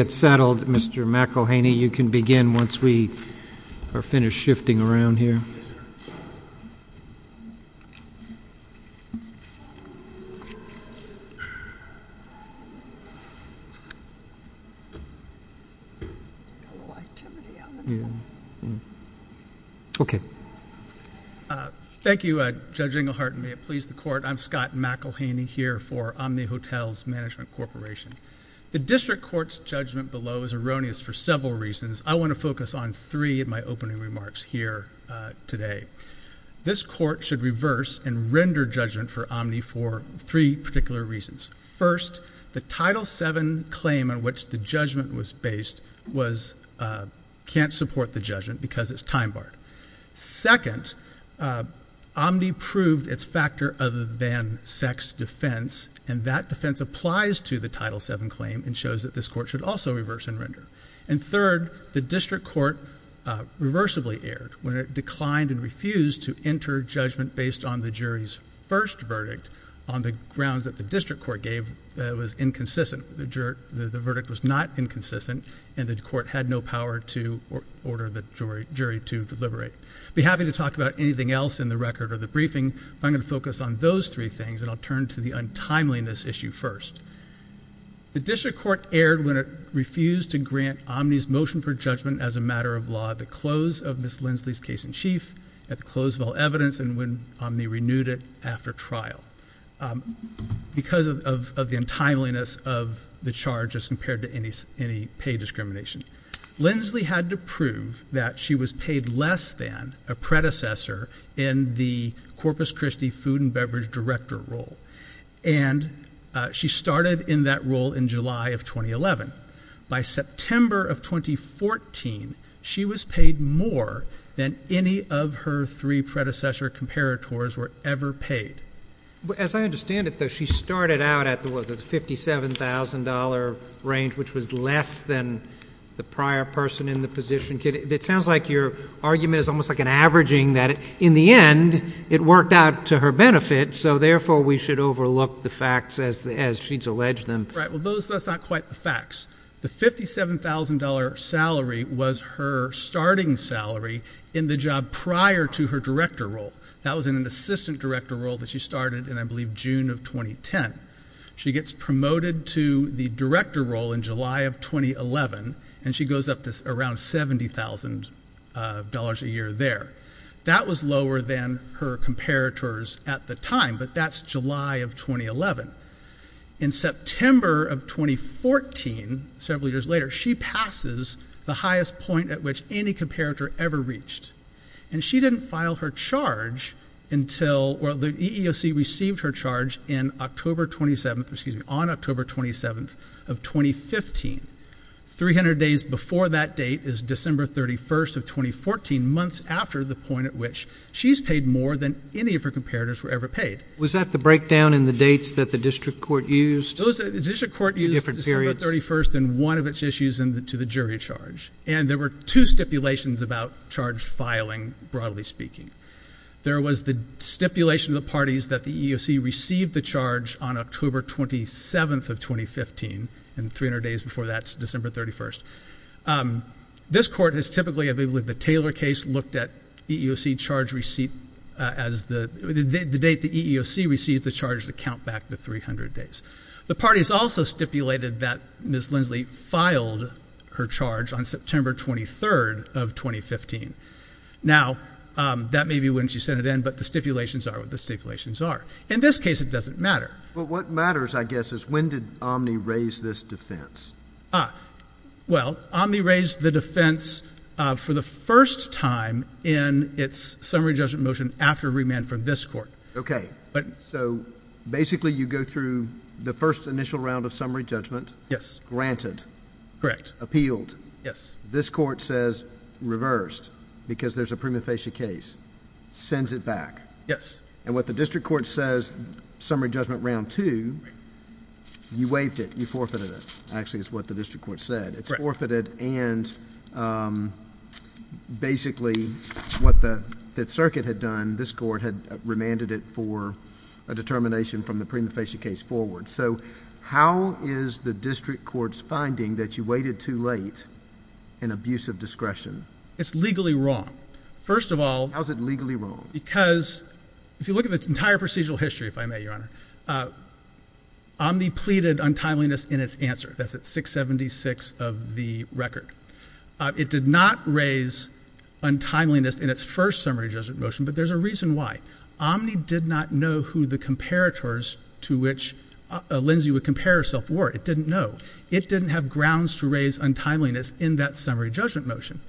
It's settled, Mr. McElhaney. You can begin once we are finished shifting around here. Thank you, Judge Englehart, and may it please the Court, I'm Scott McElhaney here for Omni Court's judgment below is erroneous for several reasons. I want to focus on three of my opening remarks here today. This Court should reverse and render judgment for Omni for three particular reasons. First, the Title VII claim on which the judgment was based can't support the judgment because it's time-barred. Second, Omni proved its factor other than sex defense, and that this Court should also reverse and render. And third, the District Court reversibly erred when it declined and refused to enter judgment based on the jury's first verdict on the grounds that the District Court gave that it was inconsistent. The verdict was not inconsistent, and the Court had no power to order the jury to deliberate. I'd be happy to talk about anything else in the record or the briefing, but I'm going to focus on those three things, and I'll turn to the untimeliness issue first. The District Court erred when it refused to grant Omni's motion for judgment as a matter of law at the close of Ms. Lindsley's case-in-chief, at the close of all evidence, and when Omni renewed it after trial because of the untimeliness of the charge as compared to any pay discrimination. Lindsley had to prove that she was paid less than a predecessor in the Corpus Christi food and beverage director role, and she started in that role in July of 2011. By September of 2014, she was paid more than any of her three predecessor comparators were ever paid. As I understand it, though, she started out at the $57,000 range, which was less than the prior person in the position. It sounds like your argument is almost like an averaging that in the end it worked out to her benefit, so therefore we should overlook the facts as she's alleged them. Right. Well, that's not quite the facts. The $57,000 salary was her starting salary in the job prior to her director role. That was in an assistant director role that she started in, I believe, June of 2010. She gets promoted to the director role in July of 2011, and she goes up to around $70,000 a year there. That was lower than her comparators at the time, but that's July of 2011. In September of 2014, several years later, she passes the highest point at which any comparator ever reached, and that's October of 2015. Three hundred days before that date is December 31st of 2014, months after the point at which she's paid more than any of her comparators were ever paid. Was that the breakdown in the dates that the district court used? The district court used December 31st in one of its issues to the jury charge, and there were two stipulations about charge filing, broadly speaking. There was the stipulation of the parties that the December 31st. This court has typically, I believe, with the Taylor case, looked at EEOC charge receipt as the date the EEOC received the charge to count back the three hundred days. The parties also stipulated that Ms. Lindsley filed her charge on September 23rd of 2015. Now, that may be when she sent it in, but the stipulations are what the stipulations are. In this case, it doesn't matter. But what matters, I guess, is when did Omni raise this defense? Well, Omni raised the defense for the first time in its summary judgment motion after remand from this court. OK, but so basically you go through the first initial round of summary judgment. Yes. Granted. Correct. Appealed. Yes. This court says reversed because there's a prima facie case, sends it back. Yes. And what the district court says, summary judgment round two, you waived it, you forfeited it. Actually, it's what the district court said. It's forfeited. And basically what the Fifth Circuit had done, this court had remanded it for a determination from the prima facie case forward. So how is the district court's finding that you waited too late in abuse of discretion? It's legally wrong. First of all, how is it legally wrong? Because if you look at the entire procedural history, if I may, Your Honor, Omni pleaded untimeliness in its answer. That's at 676 of the record. It did not raise untimeliness in its first summary judgment motion. But there's a reason why. Omni did not know who the comparators to which Lindsay would compare herself were. It didn't know. It didn't have grounds to raise untimeliness in that summary judgment motion.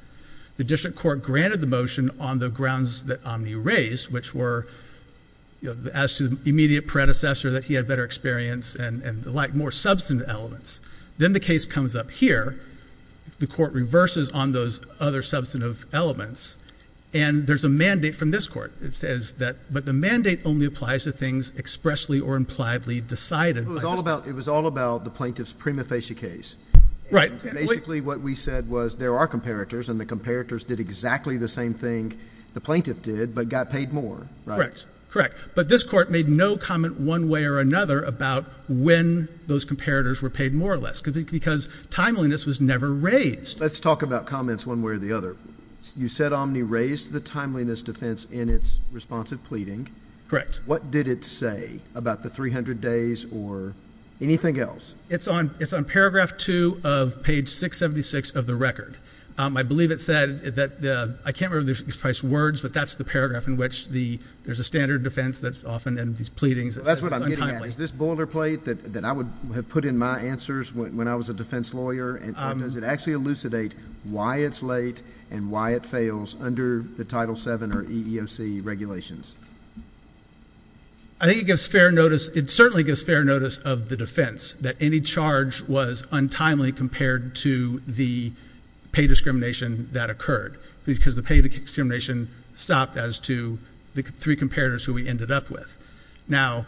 The district court granted the motion on the grounds that Omni raised, which were, as to the immediate predecessor, that he had better experience and the like, more substantive elements. Then the case comes up here. The court reverses on those other substantive elements. And there's a mandate from this court that says that, but the mandate only applies to things expressly or impliedly decided. It was all about the plaintiff's prima facie case. Right. Basically, what we said was there are comparators and the comparators did exactly the same thing the plaintiff did, but got paid more. Correct. Correct. But this court made no comment one way or another about when those comparators were paid more or less, because timeliness was never raised. Let's talk about comments one way or the other. You said Omni raised the timeliness defense in its responsive pleading. Correct. What did it say about the 300 days or anything else? It's on it's on paragraph two of page 676 of the record. I believe it said that I can't really express words, but that's the paragraph in which the there's a standard defense that's often in these pleadings. That's what I'm getting at. Is this boilerplate that I would have put in my answers when I was a defense lawyer? And does it actually elucidate why it's late and why it fails under the Title seven or EEOC regulations? I think it gives fair notice. It certainly gives fair notice of the defense that any charge was untimely compared to the pay discrimination that occurred, because the pay discrimination stopped as to the three comparators who we ended up with. Now,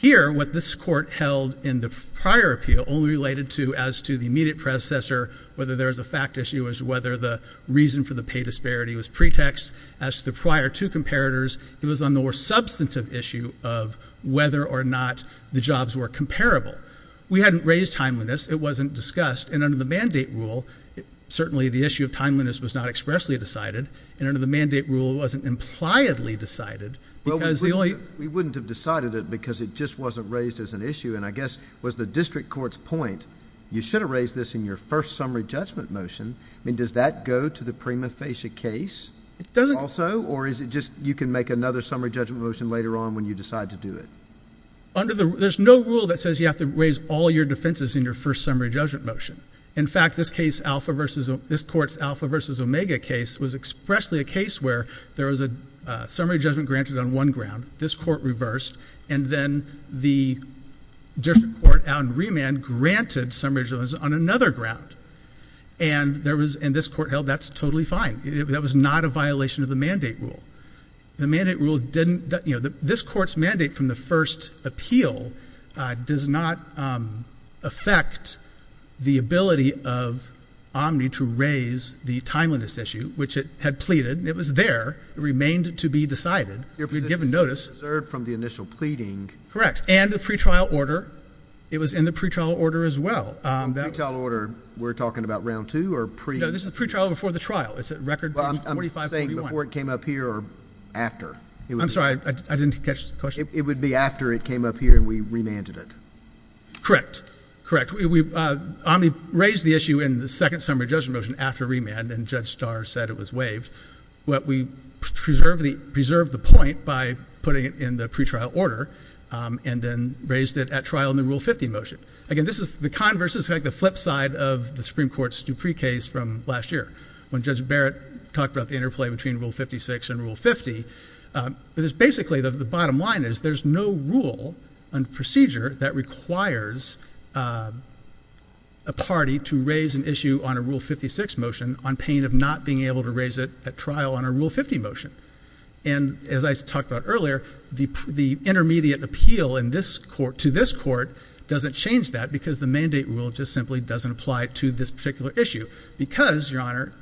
here, what this court held in the prior appeal only related to as to the immediate predecessor, whether there is a fact issue as to whether the reason for the pay disparity was pretext as to the prior two comparators, and whether there was a it was on the more substantive issue of whether or not the jobs were comparable. We hadn't raised timeliness. It wasn't discussed. And under the mandate rule, certainly the issue of timeliness was not expressly decided. And under the mandate rule, it wasn't impliedly decided. Well, we wouldn't have decided it because it just wasn't raised as an issue. And I guess was the district court's point, you should have raised this in your first summary judgment motion. I mean, does that go to the prima facie case? Also, or is it just you can make another summary judgment motion later on when you decide to do it under the there's no rule that says you have to raise all your defenses in your first summary judgment motion. In fact, this case, Alpha versus this court's Alpha versus Omega case was expressly a case where there was a summary judgment granted on one ground. This court reversed. And then the district court out in remand granted some regions on another ground. And there was in this court held, that's totally fine. That was not a violation of the mandate rule. The mandate rule didn't, you know, this court's mandate from the first appeal does not affect the ability of Omni to raise the timeliness issue, which it had pleaded. It was there, it remained to be decided. You're given notice from the initial pleading. Correct. And the pretrial order. It was in the pretrial order as well. The pretrial order, we're talking about round two or pre? No, this is the pretrial before the trial. It's a record. I'm saying before it came up here or after. I'm sorry, I didn't catch the question. It would be after it came up here and we remanded it. Correct, correct. We raised the issue in the second summary judgment motion after remand. And Judge Starr said it was waived. What we preserve the preserve the point by putting it in the pretrial order and then raised it at trial in the Rule 50 motion. Again, this is the converse is like the flip side of the Supreme Court's Dupree case from last year. When Judge Barrett talked about the interplay between Rule 56 and Rule 50, it is basically the bottom line is there's no rule and procedure that requires a party to raise an issue on a Rule 56 motion on pain of not being able to raise it at trial on a Rule 50 motion. And as I talked about earlier, the the intermediate appeal in this court to this court doesn't change that because the mandate rule just simply doesn't apply to this particular issue because your honor.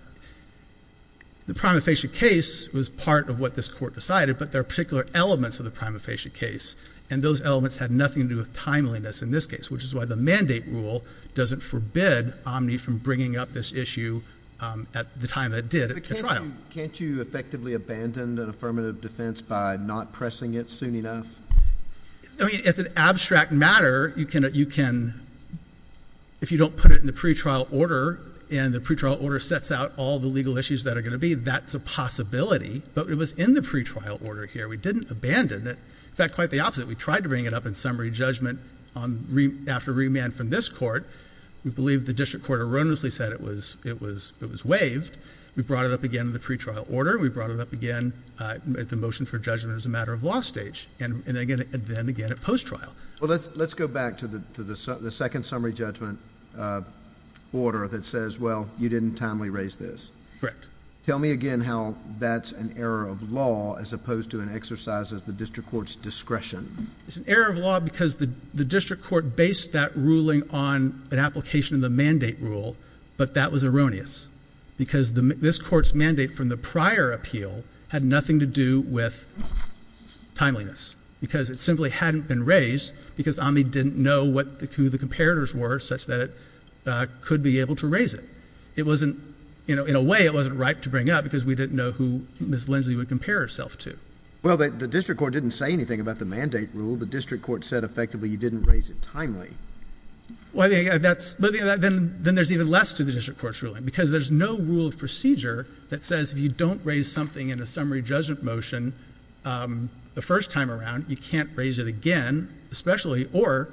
The prima facie case was part of what this court decided, but there are particular elements of the prima facie case, and those elements had nothing to do with timeliness in this case, which is why the mandate rule doesn't forbid Omni from bringing up this issue at the time that did it, but can't you effectively abandoned an affirmative defense by not pressing it soon enough? I mean, it's an abstract matter. You can you can. If you don't put it in the pretrial order and the pretrial order sets out all the legal issues that are going to be, that's a possibility, but it was in the pretrial order here. We didn't abandon it. In fact, quite the opposite. We tried to bring it up in summary judgment after remand from this court. We believe the district court erroneously said it was it was it was waived. We brought it up again in the pretrial order. We brought it up again at the motion for judgment as a matter of law stage. And then again, at post trial. Well, let's let's go back to the to the second summary judgment order that says, well, you didn't timely raise this. Correct. Tell me again how that's an error of law as opposed to an exercise of the district court's discretion. It's an error of law because the district court based that ruling on an application of the mandate rule, but that was erroneous because this court's mandate from the prior appeal had nothing to do with timeliness because it simply hadn't been raised because I didn't know what the who the comparators were such that it could be able to raise it. It wasn't, you know, in a way it wasn't right to bring up because we didn't know who Ms. Lindsay would compare herself to. Well, the district court didn't say anything about the mandate rule. The district court said effectively you didn't raise it timely. Well, that's but then then there's even less to the district court's ruling because there's no rule of procedure that says if you don't raise something in a summary judgment motion the first time around, you can't raise it again, especially or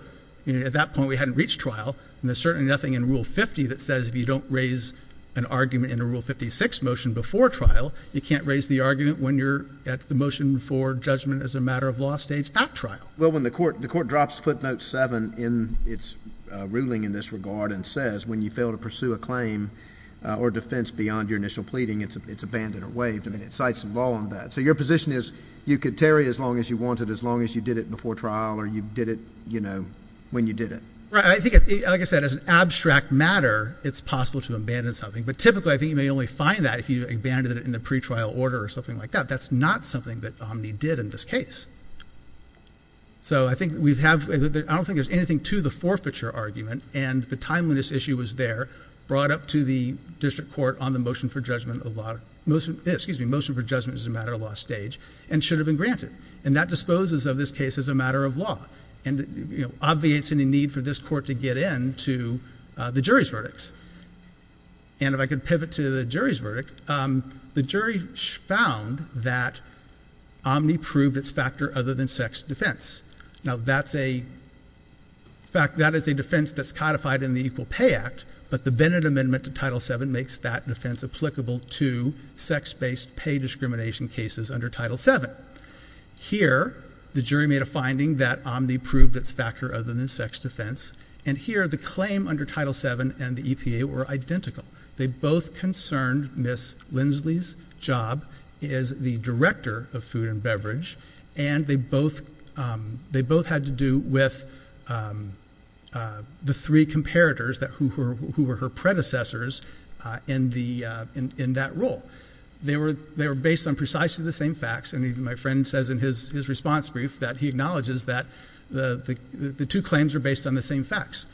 at that point we hadn't reached trial. And there's certainly nothing in rule 50 that says if you don't raise an argument in a rule 56 motion before trial, you can't raise the argument when you're at the motion for judgment as a matter of law stage at trial. Well, when the court the court drops footnote seven in its ruling in this regard and says when you fail to pursue a claim or defense beyond your initial argument waived, I mean, it cites some law on that. So your position is you could tarry as long as you wanted, as long as you did it before trial or you did it, you know, when you did it. Right. I think, like I said, as an abstract matter, it's possible to abandon something. But typically I think you may only find that if you abandon it in the pretrial order or something like that. That's not something that did in this case. So I think we have I don't think there's anything to the forfeiture argument and the timeliness issue was there brought up to the district court on the motion for judgment, a lot of motion, excuse me, motion for judgment as a matter of law stage and should have been granted. And that disposes of this case as a matter of law and obviates any need for this court to get in to the jury's verdicts. And if I could pivot to the jury's verdict, the jury found that Omni proved its factor other than sex defense. Now, that's a. In fact, that is a defense that's codified in the Equal Pay Act, but the Bennett Amendment to Title seven makes that defense applicable to sex based pay discrimination cases under Title seven. Here, the jury made a finding that Omni proved its factor other than sex defense. And here the claim under Title seven and the EPA were identical. They both concerned Ms. Lindsley's job is the director of food and beverage. And they both they both had to do with the three comparators that who were her predecessors in the in that role. They were they were based on precisely the same facts. And even my friend says in his response brief that he acknowledges that the two claims are based on the same facts.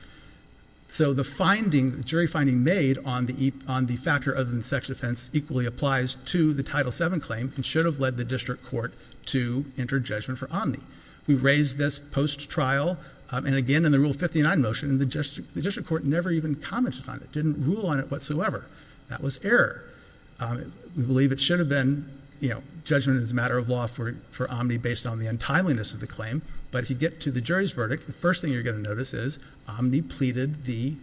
So the finding jury finding made on the on the factor of the sex offense equally applies to the Title seven claim and should have led the district court to enter judgment for Omni. We raised this post trial and again in the rule fifty nine motion. The district court never even commented on it. Didn't rule on it whatsoever. That was error. We believe it should have been, you know, judgment is a matter of law for Omni based on the untimeliness of the claim. But if you get to the jury's verdict, the first thing you're going to notice is Omni pleaded the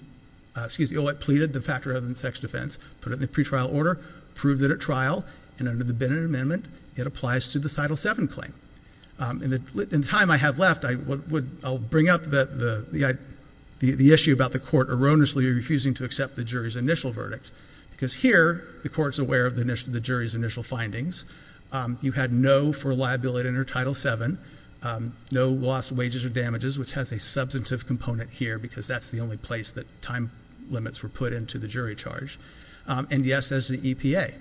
excuse me. Oh, I pleaded the factor other than sex defense, put it in the pretrial order, proved that at trial and under the Bennett Amendment, it applies to the title seven claim. And the time I have left, I would I'll bring up the the issue about the court erroneously refusing to accept the jury's initial verdict, because here the court's aware of the jury's initial findings. You had no for liability under Title seven, no lost wages or damages, which has a substantive component here, because that's the only place that time limits were put into the jury charge. And yes, as the EPA,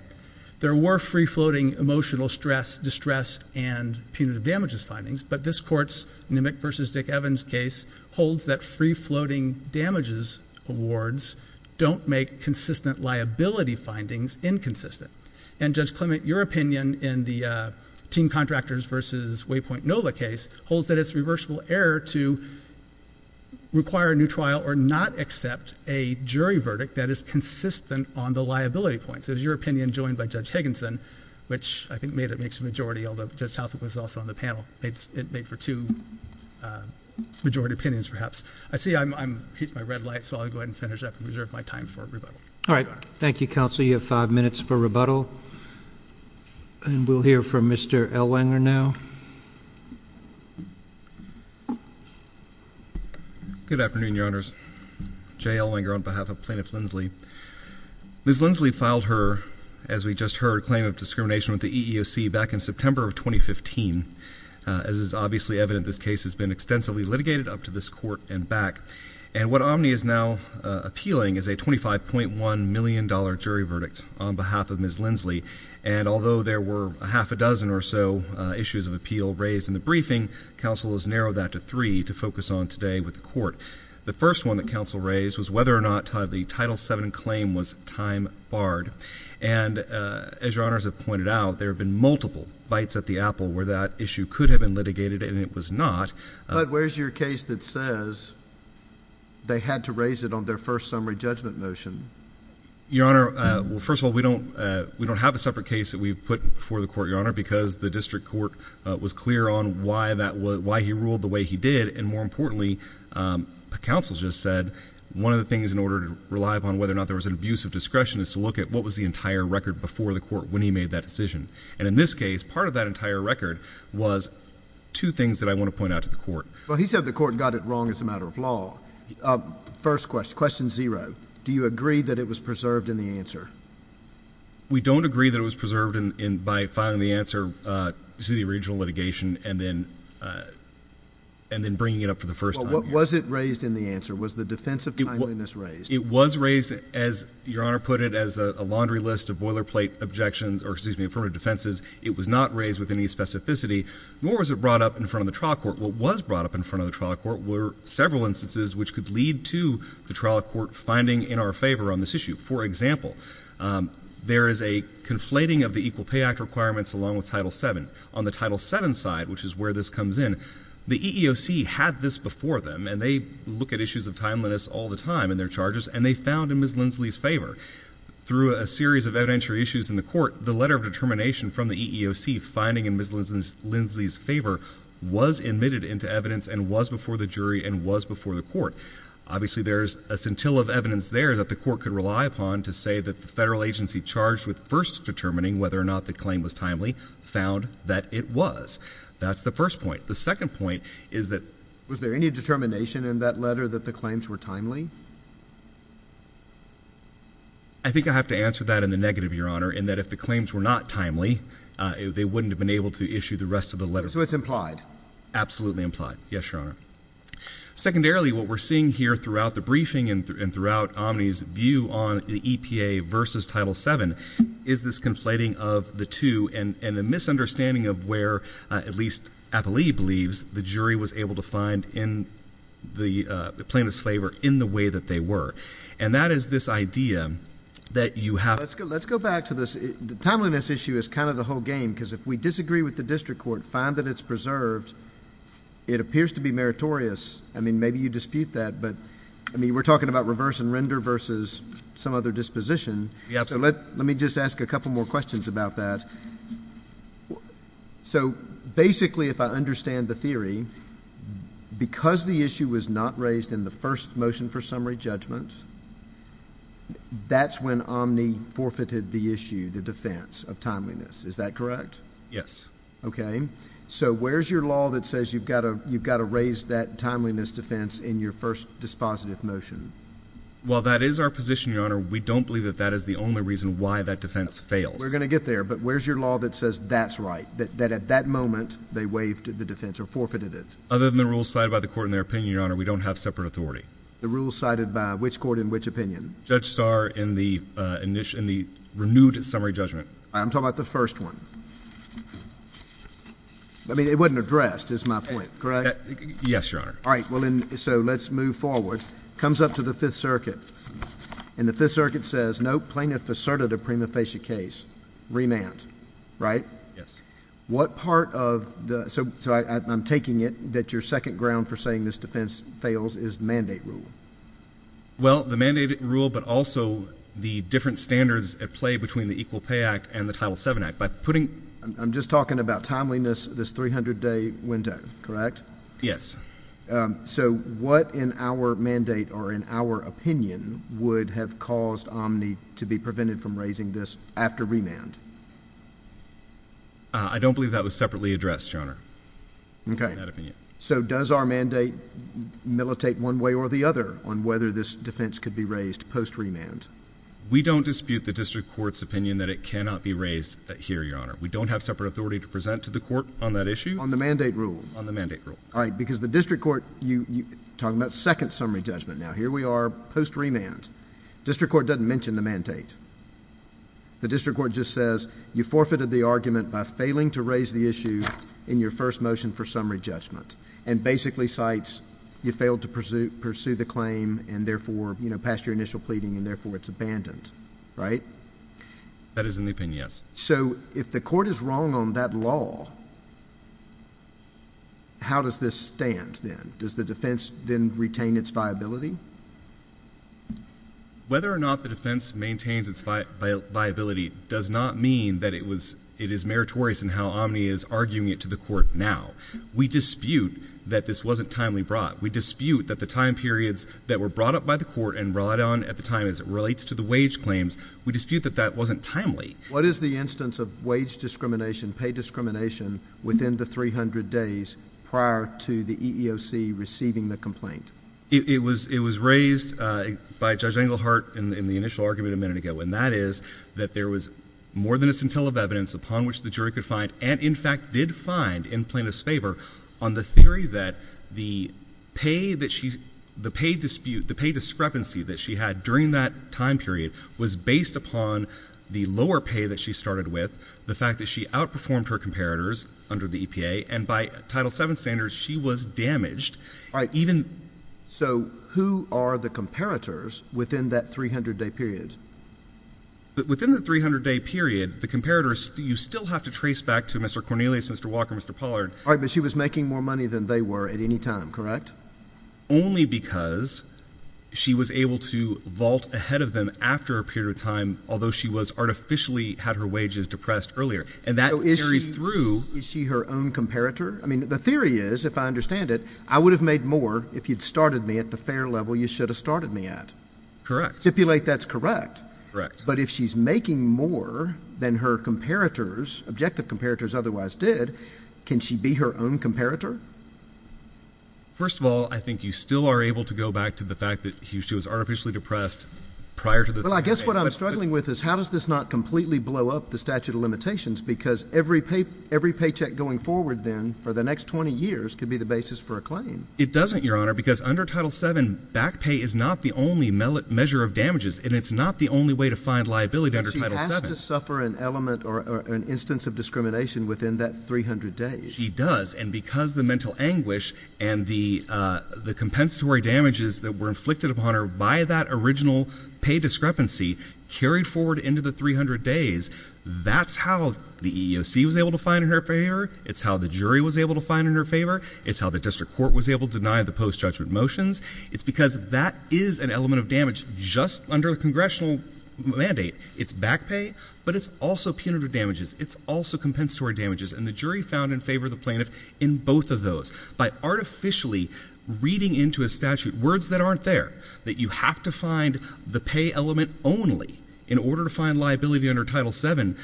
there were free floating emotional stress, distress and punitive damages findings. But this court's Nimick versus Dick Evans case holds that free floating damages awards don't make consistent liability findings inconsistent. And Judge Clement, your opinion in the team contractors versus Waypoint Nova case holds that it's reversible error to require a new trial or not accept a jury liability points. Is your opinion joined by Judge Higginson, which I think made it makes a majority, although just how it was also on the panel. It's made for two majority opinions, perhaps. I see I'm hit my red light, so I'll go ahead and finish up and reserve my time for rebuttal. All right. Thank you, counsel. You have five minutes for rebuttal. And we'll hear from Mr. Elwanger now. Good afternoon, your honors. Jay Elwanger on behalf of Plaintiff Linsley. Ms. Linsley filed her, as we just heard, a claim of discrimination with the EEOC back in September of 2015, as is obviously evident, this case has been extensively litigated up to this court and back and what Omni is now appealing is a twenty five point one million dollar jury verdict on behalf of Ms. Linsley. And although there were a half a dozen or so issues of appeal raised in the briefing, counsel has narrowed that to three to focus on today with the court. The first one that counsel raised was whether or not the Title seven claim was time barred. And as your honors have pointed out, there have been multiple bites at the apple where that issue could have been litigated and it was not. But where's your case that says. They had to raise it on their first summary judgment motion, your honor. Well, first of all, we don't we don't have a separate case that we've put before the court, your honor, because the district court was clear on why that was why he ruled the way he did. And more importantly, counsel just said one of the things in order to rely upon whether or not there was an abuse of discretion is to look at what was the entire record before the court when he made that decision. And in this case, part of that entire record was two things that I want to point out to the court. Well, he said the court got it wrong as a matter of law. First question, question zero. Do you agree that it was preserved in the answer? We don't agree that it was preserved in by filing the answer to the original litigation and then and then bringing it up for the first time. What was it raised in the answer? Was the defense of timeliness raised? It was raised, as your honor put it, as a laundry list of boilerplate objections or excuse me, affirmative defenses. It was not raised with any specificity, nor was it brought up in front of the trial court. What was brought up in front of the trial court were several instances which could lead to the trial court finding in our favor on this issue. For example, there is a conflating of the Equal Pay Act requirements along with Title seven. On the Title seven side, which is where this comes in, the EEOC had this before them and they look at issues of timeliness all the time in their charges and they found in Ms. Lindsley's favor through a series of evidentiary issues in the court. The letter of determination from the EEOC finding in Ms. Lindsley's favor was admitted into evidence and was before the jury and was before the court. Obviously, there's a scintilla of evidence there that the court could rely upon to say that the federal agency charged with first determining whether or not the claim was timely found that it was. That's the first point. The second point is that was there any determination in that letter that the claims were timely? I think I have to answer that in the negative, Your Honor, in that if the claims were not timely, they wouldn't have been able to issue the rest of the letter. So it's implied, absolutely implied. Yes, Your Honor. Secondarily, what we're seeing here throughout the briefing and throughout Omni's view on the EPA versus Title 7 is this conflating of the two and the misunderstanding of where, at least I believe, the jury was able to find in the plaintiff's favor in the way that they were, and that is this idea that you have. Let's go back to this. The timeliness issue is kind of the whole game, because if we disagree with the district court, find that it's preserved, it appears to be meritorious. I mean, maybe you dispute that. But I mean, we're talking about reverse and render versus some other disposition. So let let me just ask a couple more questions about that. So basically, if I understand the theory, because the issue was not raised in the first motion for summary judgment, that's when Omni forfeited the issue, the defense of timeliness. Is that correct? Yes. OK, so where's your law that says you've got to you've got to raise that timeliness defense in your first dispositive motion? While that is our position, your honor, we don't believe that that is the only reason why that defense fails. We're going to get there. But where's your law that says that's right, that at that moment they waived the defense or forfeited it? Other than the rules cited by the court in their opinion, your honor, we don't have separate authority. The rules cited by which court in which opinion? Judge Starr in the renewed summary judgment. I'm talking about the first one. I mean, it wasn't addressed is my point, correct? Yes, your honor. All right. Well, so let's move forward, comes up to the Fifth Circuit and the Fifth Circuit says no plaintiff asserted a prima facie case remand. Right. Yes. What part of the so I'm taking it that your second ground for saying this defense fails is mandate rule. Well, the mandate rule, but also the different standards at play between the Equal Pay Act and the Title seven act by putting I'm just talking about timeliness, this 300 day window, correct? Yes. So what in our mandate or in our opinion would have caused Omni to be prevented from raising this after remand? I don't believe that was separately addressed, your honor. OK, so does our mandate militate one way or the other on whether this defense could be raised post remand? We don't dispute the district court's opinion that it cannot be raised here. Your honor, we don't have separate authority to present to the court on that all right, because the district court you talk about second summary judgment. Now, here we are post remand district court doesn't mention the mandate. The district court just says you forfeited the argument by failing to raise the issue in your first motion for summary judgment and basically cites you failed to pursue pursue the claim and therefore passed your initial pleading and therefore it's abandoned. Right. That is an opinion. Yes. So if the court is wrong on that law. How does this stand then? Does the defense then retain its viability? Whether or not the defense maintains its viability does not mean that it was it is meritorious and how Omni is arguing it to the court now, we dispute that this wasn't timely brought. We dispute that the time periods that were brought up by the court and brought on at the time as it relates to the wage claims, we dispute that that wasn't timely. What is the instance of wage discrimination, pay discrimination within the 300 days prior to the EEOC receiving the complaint? It was it was raised by Judge Englehart in the initial argument a minute ago, and that is that there was more than a scintilla of evidence upon which the jury could find and in fact did find in plaintiff's favor on the theory that the pay that she's the pay dispute, the pay discrepancy that she had during that time period was based upon the lower pay that she started with. The fact that she outperformed her comparators under the EPA and by Title seven standards, she was damaged even. So who are the comparators within that 300 day period? But within the 300 day period, the comparators, you still have to trace back to Mr. Cornelius, Mr. Walker, Mr. Pollard. But she was making more money than they were at any time, correct? Only because she was able to vault ahead of them after a period of time, although she was artificially had her wages depressed earlier and that is through. Is she her own comparator? I mean, the theory is, if I understand it, I would have made more if you'd started me at the fair level you should have started me at. Correct. Stipulate that's correct, correct. But if she's making more than her comparators, objective comparators otherwise did, can she be her own comparator? First of all, I think you still are able to go back to the fact that she was artificially depressed prior to that, but I guess what I'm struggling with is how does this not completely blow up the statute of limitations? Because every pay every paycheck going forward then for the next 20 years could be the basis for a claim. It doesn't, Your Honor, because under Title seven back pay is not the only measure of damages and it's not the only way to find liability. She has to suffer an element or an instance of discrimination within that 300 days. She does. And because the mental anguish and the the compensatory damages that were inflicted upon her by that original pay discrepancy carried forward into the 300 days, that's how the EEOC was able to find in her favor. It's how the jury was able to find in her favor. It's how the district court was able to deny the post judgment motions. It's because that is an element of damage just under the congressional mandate. It's back pay, but it's also punitive damages. It's also compensatory damages. And the jury found in favor of the plaintiff in both of those by artificially reading into a statute words that aren't there, that you have to find the pay element only in order to find liability under Title seven.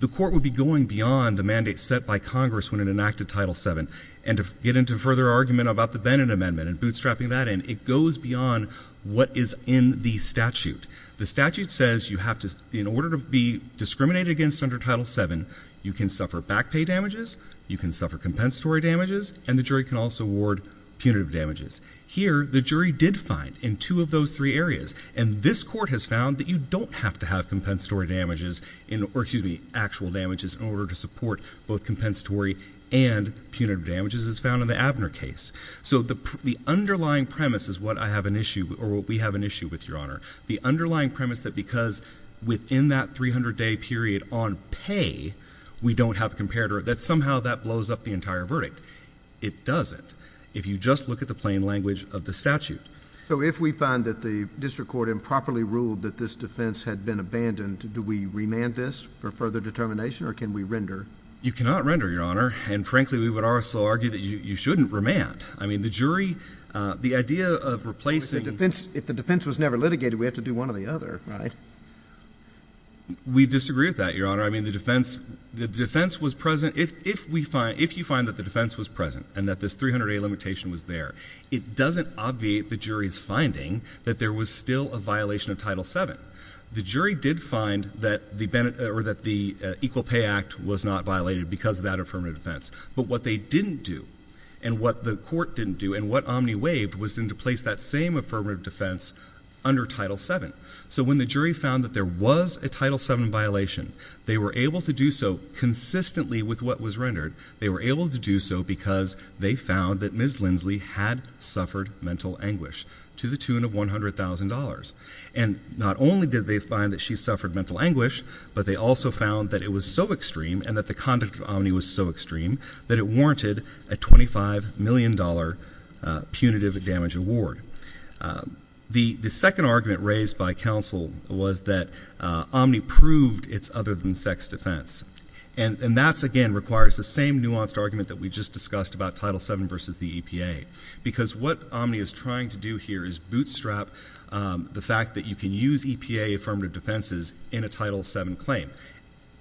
The court would be going beyond the mandate set by Congress when it enacted Title seven and to get into further argument about the Bennett Amendment and bootstrapping that and it goes beyond what is in the statute. The statute says you have to in order to be discriminated against under Title seven, you can suffer back pay damages, you can suffer compensatory damages, and the jury can also award punitive damages. Here, the jury did find in two of those three areas. And this court has found that you don't have to have compensatory damages in or excuse me, actual damages in order to support both compensatory and punitive damages as found in the Abner case. So the underlying premise is what I have an issue or what we have an issue with your honor. The underlying premise that because within that 300 day period on pay, we don't have compared or that somehow that blows up the entire verdict. It doesn't. If you just look at the plain language of the statute. So if we find that the district court improperly ruled that this defense had been abandoned, do we remand this for further determination or can we render? You cannot render your honor. And frankly, we would also argue that you shouldn't remand. I mean, the jury, the idea of replacing the defense, if the defense was never litigated, we have to do one or the other. Right. We disagree with that, your honor. I mean, the defense, the defense was present. If we find if you find that the defense was present and that this 300 day limitation was there, it doesn't obviate the jury's finding that there was still a violation of Title seven. The jury did find that the Bennett or that the Equal Pay Act was not violated because of that affirmative defense. But what they didn't do and what the court didn't do and what Omni waived was to place that same affirmative defense under Title seven. So when the jury found that there was a Title seven violation, they were able to do so consistently with what was rendered. They were able to do so because they found that Ms. Lindsley had suffered mental anguish to the tune of one hundred thousand dollars. And not only did they find that she suffered mental anguish, but they also found that it was so extreme and that the conduct of Omni was so extreme that it warranted a twenty five million dollar punitive damage award. The second argument raised by counsel was that Omni proved it's other than sex defense. And that's again requires the same nuanced argument that we just discussed about Title seven versus the EPA, because what Omni is trying to do here is bootstrap the fact that you can use EPA affirmative defenses in a Title seven claim.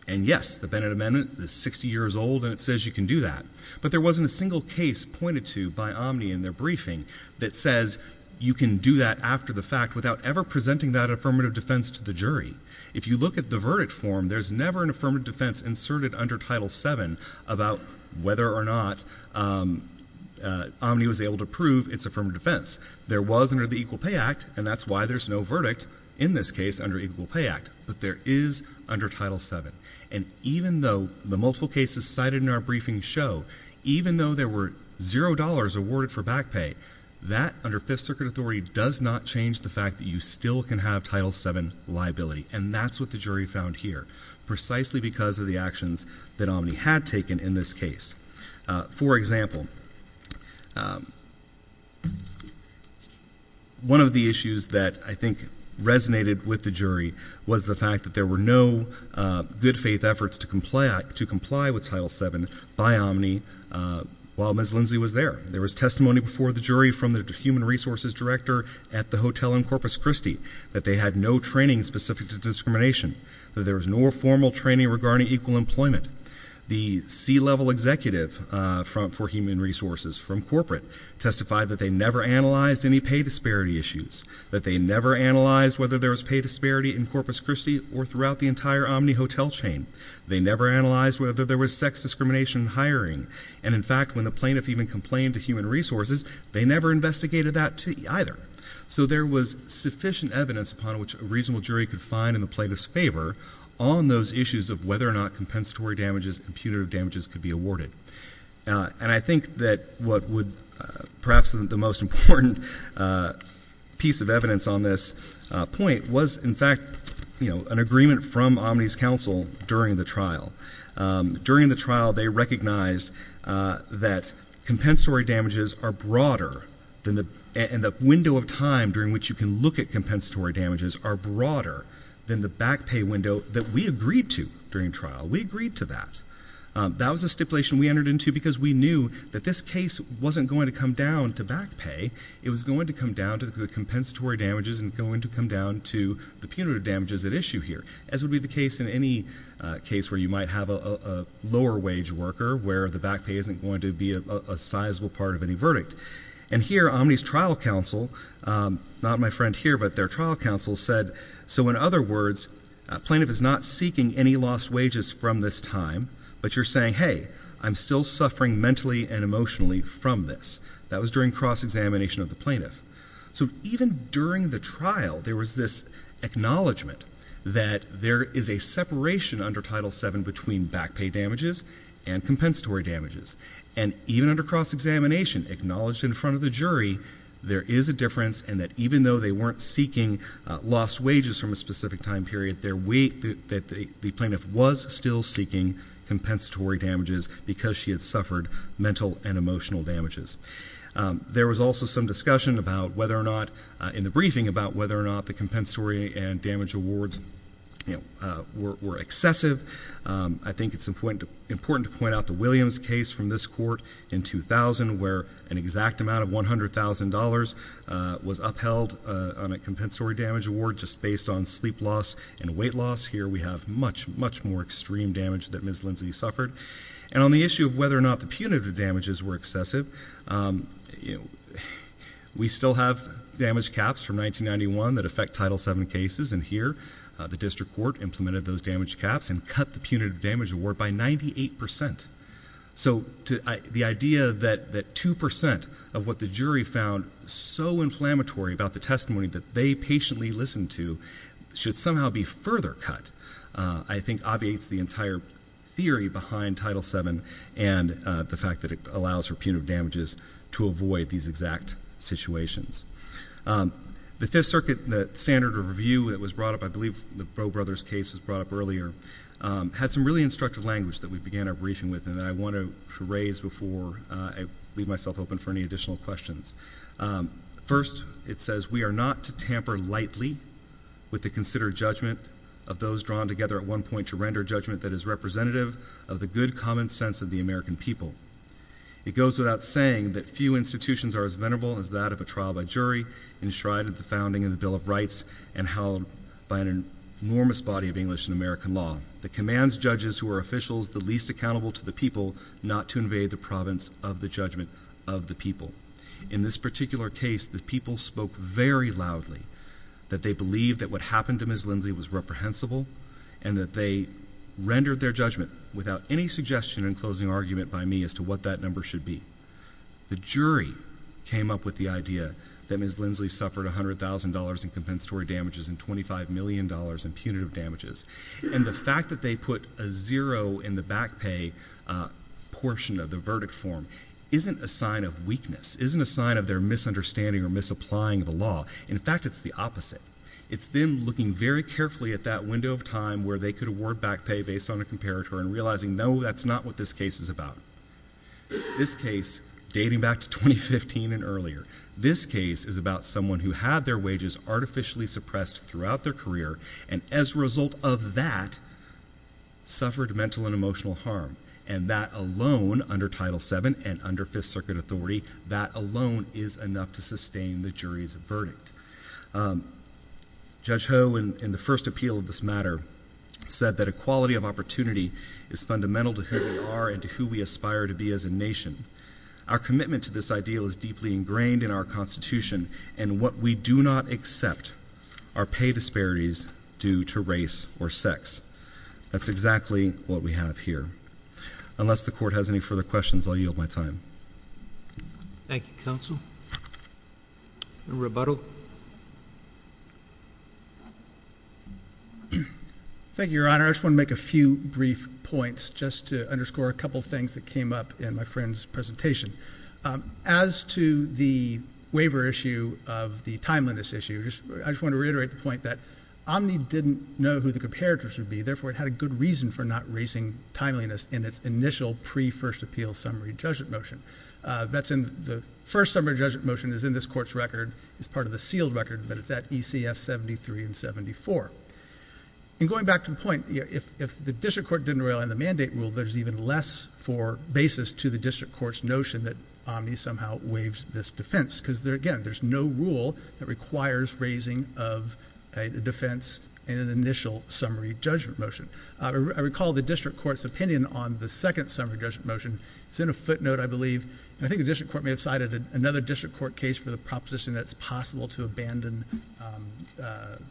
And yes, the Bennett Amendment is 60 years old and it says you can do that. But there wasn't a single case pointed to by Omni in their briefing that says you can do that after the fact without ever presenting that affirmative defense to the jury. If you look at the verdict form, there's never an affirmative defense inserted under Title seven about whether or not Omni was able to prove it's affirmative defense. There was under the Equal Pay Act, and that's why there's no verdict in this case under Equal Pay Act. But there is under Title seven. And even though the multiple cases cited in our briefing show, even though there were zero dollars awarded for back pay, that under Fifth Circuit authority does not change the fact that you still can have Title seven liability. And that's what the jury found here, precisely because of the actions that Omni had taken in this case. For example, one of the issues that I think resonated with the jury was the fact that there were no good faith efforts to comply with Title seven by Omni while Ms. Lindsley was there. There was testimony before the jury from the human resources director at the hotel in Corpus Christi that they had no training specific to discrimination, that there was no formal training regarding equal employment. The C-level executive for human resources from corporate testified that they never analyzed any pay disparity issues, that they never analyzed whether there was pay disparity in Corpus Christi or throughout the entire Omni hotel chain. They never analyzed whether there was sex discrimination hiring. And in fact, when the plaintiff even complained to human resources, they never investigated that either. So there was sufficient evidence upon which a reasonable jury could find in the plaintiff's favor on those issues of whether or not compensatory damages and punitive damages could be awarded. And I think that what would perhaps the most important piece of evidence on this point was, in fact, you know, an agreement from Omni's counsel during the trial. During the trial, they recognized that compensatory damages are broader than the and the window of time during which you can look at compensatory damages are broader than the back pay window that we agreed to during trial. We agreed to that. That was a stipulation we entered into because we knew that this case wasn't going to come down to back pay. It was going to come down to the punitive damages at issue here, as would be the case in any case where you might have a lower wage worker where the back pay isn't going to be a sizable part of any verdict. And here Omni's trial counsel, not my friend here, but their trial counsel said. So in other words, plaintiff is not seeking any lost wages from this time. But you're saying, hey, I'm still suffering mentally and emotionally from this. That was during cross-examination of the plaintiff. So even during the trial, there was this acknowledgment that there is a separation under Title seven between back pay damages and compensatory damages, and even under cross-examination acknowledged in front of the jury, there is a difference. And that even though they weren't seeking lost wages from a specific time period, their weight that the plaintiff was still seeking compensatory damages because she had suffered mental and emotional damages. There was also some discussion about whether or not in the briefing about whether or not the compensatory and damage awards were excessive. I think it's important to point out the Williams case from this court in 2000, where an exact amount of one hundred thousand dollars was upheld on a compensatory damage award just based on sleep loss and weight loss. Here we have much, much more extreme damage that Ms. Punitive damages were excessive. You know, we still have damage caps from 1991 that affect Title seven cases. And here the district court implemented those damage caps and cut the punitive damage award by ninety eight percent. So the idea that that two percent of what the jury found so inflammatory about the testimony that they patiently listened to should somehow be further cut, I think, obviates the entire theory behind Title seven and the fact that it allows for punitive damages to avoid these exact situations. The Fifth Circuit, the standard of review that was brought up, I believe the Bro brothers case was brought up earlier, had some really instructive language that we began a briefing with. And I want to raise before I leave myself open for any additional questions. First, it says we are not to tamper lightly with the considered judgment of those drawn together at one point to render judgment that is representative of the good common sense of the American people. It goes without saying that few institutions are as venerable as that of a trial by jury enshrined at the founding of the Bill of Rights and held by an enormous body of English and American law that commands judges who are officials, the least accountable to the people, not to invade the province of the judgment of the people. In this particular case, the people spoke very loudly that they believe that what happened to Ms. Lindsley was reprehensible and that they rendered their judgment without any suggestion and closing argument by me as to what that number should be. The jury came up with the idea that Ms. Lindsley suffered one hundred thousand dollars in compensatory damages and twenty five million dollars in punitive damages. And the fact that they put a zero in the back pay portion of the verdict form isn't a sign of weakness, isn't a sign of their misunderstanding or misapplying the law. In fact, it's the opposite. It's them looking very carefully at that window of time where they could award back pay based on a comparator and realizing, no, that's not what this case is about. This case, dating back to twenty fifteen and earlier, this case is about someone who had their wages artificially suppressed throughout their career and as a result of that. Suffered mental and emotional harm, and that alone under Title seven and under Fifth Circuit authority, that alone is enough to sustain the jury's verdict. Judge Ho in the first appeal of this matter said that equality of opportunity is fundamental to who we are and to who we aspire to be as a nation, our commitment to this ideal is deeply ingrained in our Constitution and what we do not accept are pay disparities due to race or sex. That's exactly what we have here. Unless the court has any further questions, I'll yield my time. Thank you, counsel. Rebuttal. Thank you, Your Honor, I just want to make a few brief points just to underscore a couple of things that came up in my friend's presentation. As to the waiver issue of the timeliness issue, I just want to reiterate the point that Omni didn't know who the comparators would be. Therefore, it had a good reason for not raising timeliness in its initial pre first appeal summary judgment motion. That's in the first summary judgment motion is in this court's record. It's part of the sealed record, but it's at ECF seventy three and seventy four. And going back to the point, if the district court didn't rely on the mandate rule, there's even less for basis to the district court's notion that Omni somehow waives this defense because again, there's no rule that requires raising of a defense in an initial summary judgment motion, I recall the district court's opinion on the second summary judgment motion. It's in a footnote, I believe. And I think the district court may have cited another district court case for the proposition that it's possible to abandon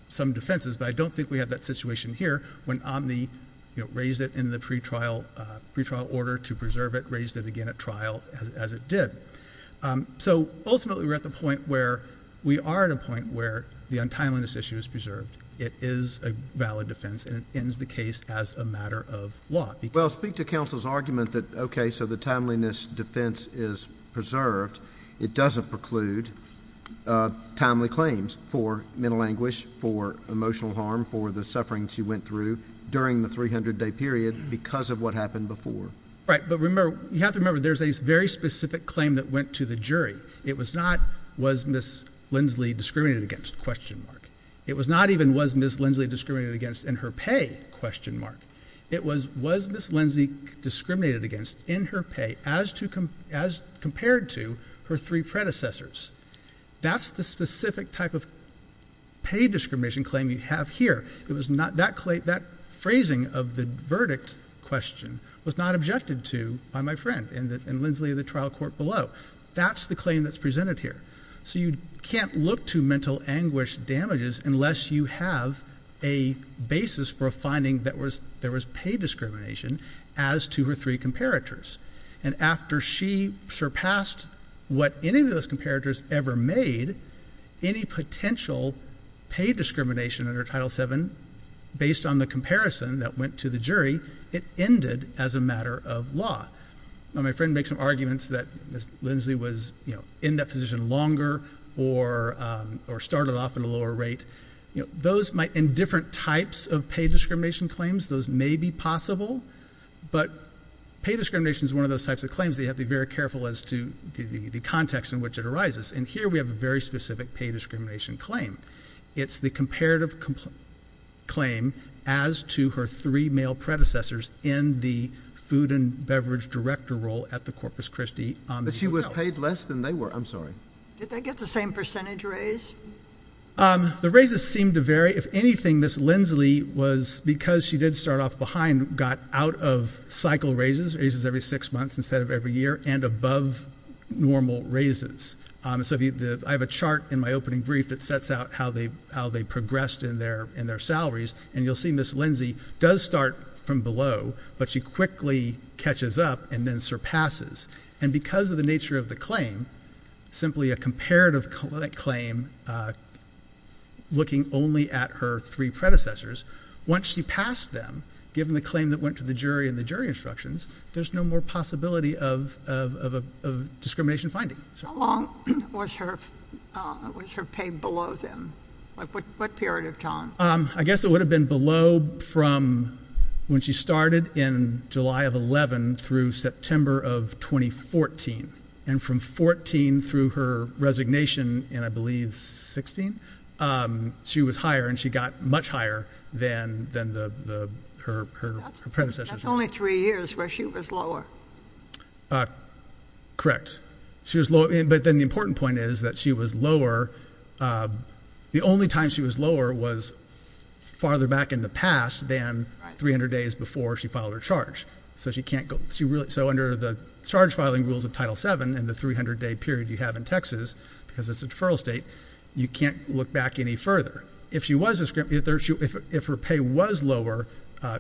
some defenses, but I don't think we have that situation here when Omni raised it in the pretrial order to preserve it, raised it again at trial as it did. So ultimately, we're at the point where we are at a point where the untimeliness issue is preserved. It is a valid defense and it ends the case as a matter of law. Well, speak to counsel's argument that, OK, so the timeliness defense is preserved. It doesn't preclude timely claims for mental anguish, for emotional harm, for the suffering she went through during the 300 day period because of what happened before. Right. But remember, you have to remember, there's a very specific claim that went to the jury. It was not was Ms. Lindsley discriminated against question mark. It was not even was Ms. Lindsley discriminated against in her pay question mark. It was was Ms. Lindsley discriminated against in her pay as to as compared to her three predecessors. That's the specific type of. Pay discrimination claim you have here, it was not that that phrasing of the verdict question was not objected to by my friend and Lindsley of the trial court below. That's the claim that's presented here. So you can't look to mental anguish damages unless you have a basis for a finding that was there was pay discrimination as to her three comparators. And after she surpassed what any of those comparators ever made, any potential pay discrimination under Title seven, based on the comparison that went to the jury, it ended as a matter of law. Now, my friend makes some arguments that Ms. Lindsley was in that position longer or or started off at a lower rate. Those might in different types of pay discrimination claims, those may be possible. But pay discrimination is one of those types of claims. They have to be very careful as to the context in which it arises. And here we have a very specific pay discrimination claim. It's the comparative claim as to her three male predecessors in the food and beverage director role at the Corpus Christi. But she was paid less than they were. I'm sorry. Did they get the same percentage raise? The raises seem to vary. If anything, this Lindsley was because she did start off behind, got out of cycle raises, raises every six months instead of every year and above normal raises. So I have a chart in my opening brief that sets out how they how they progressed in their in their salaries. And you'll see Ms. Lindsley does start from below, but she quickly catches up and then surpasses. And because of the nature of the claim, simply a comparative claim, looking only at her three predecessors, once she passed them, given the claim that went to the jury and the jury instructions, there's no more possibility of of of discrimination finding so long was her was her pay below them. Like what period of time? I guess it would have been below from when she started in July of 11 through September of 2014. And from 14 through her resignation and I believe 16, she was higher and she got much higher than than the her her predecessors. Only three years where she was lower. Correct. She was low. But then the important point is that she was lower. The only time she was lower was farther back in the past than 300 days before she filed her charge. So she can't go. So under the charge filing rules of Title seven and the 300 day period you have in Texas because it's a deferral state, you can't look back any further if she was a script. If if if her pay was lower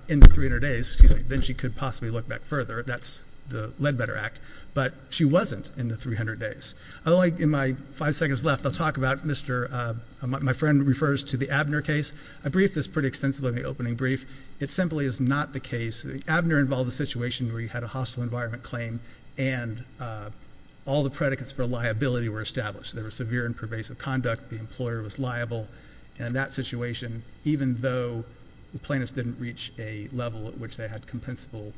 in the 300 days, then she could possibly look back further. That's the Ledbetter Act. But she wasn't in the 300 days. I like in my five seconds left, I'll talk about her. I'll talk about Mr. My friend refers to the Abner case. I briefed this pretty extensively in the opening brief. It simply is not the case. Abner involved a situation where you had a hostile environment claim and all the predicates for liability were established. There were severe and pervasive conduct. The employer was liable. And that situation, even though the plaintiffs didn't reach a level at which they had compensable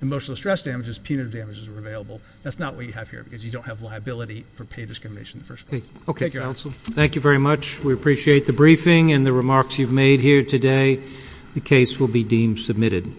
emotional stress damages, punitive damages were available. That's not what you have here because you don't have liability for pay discrimination in the first place. OK, counsel. Thank you very much. We appreciate the briefing and the remarks you've made here today. The case will be deemed submitted.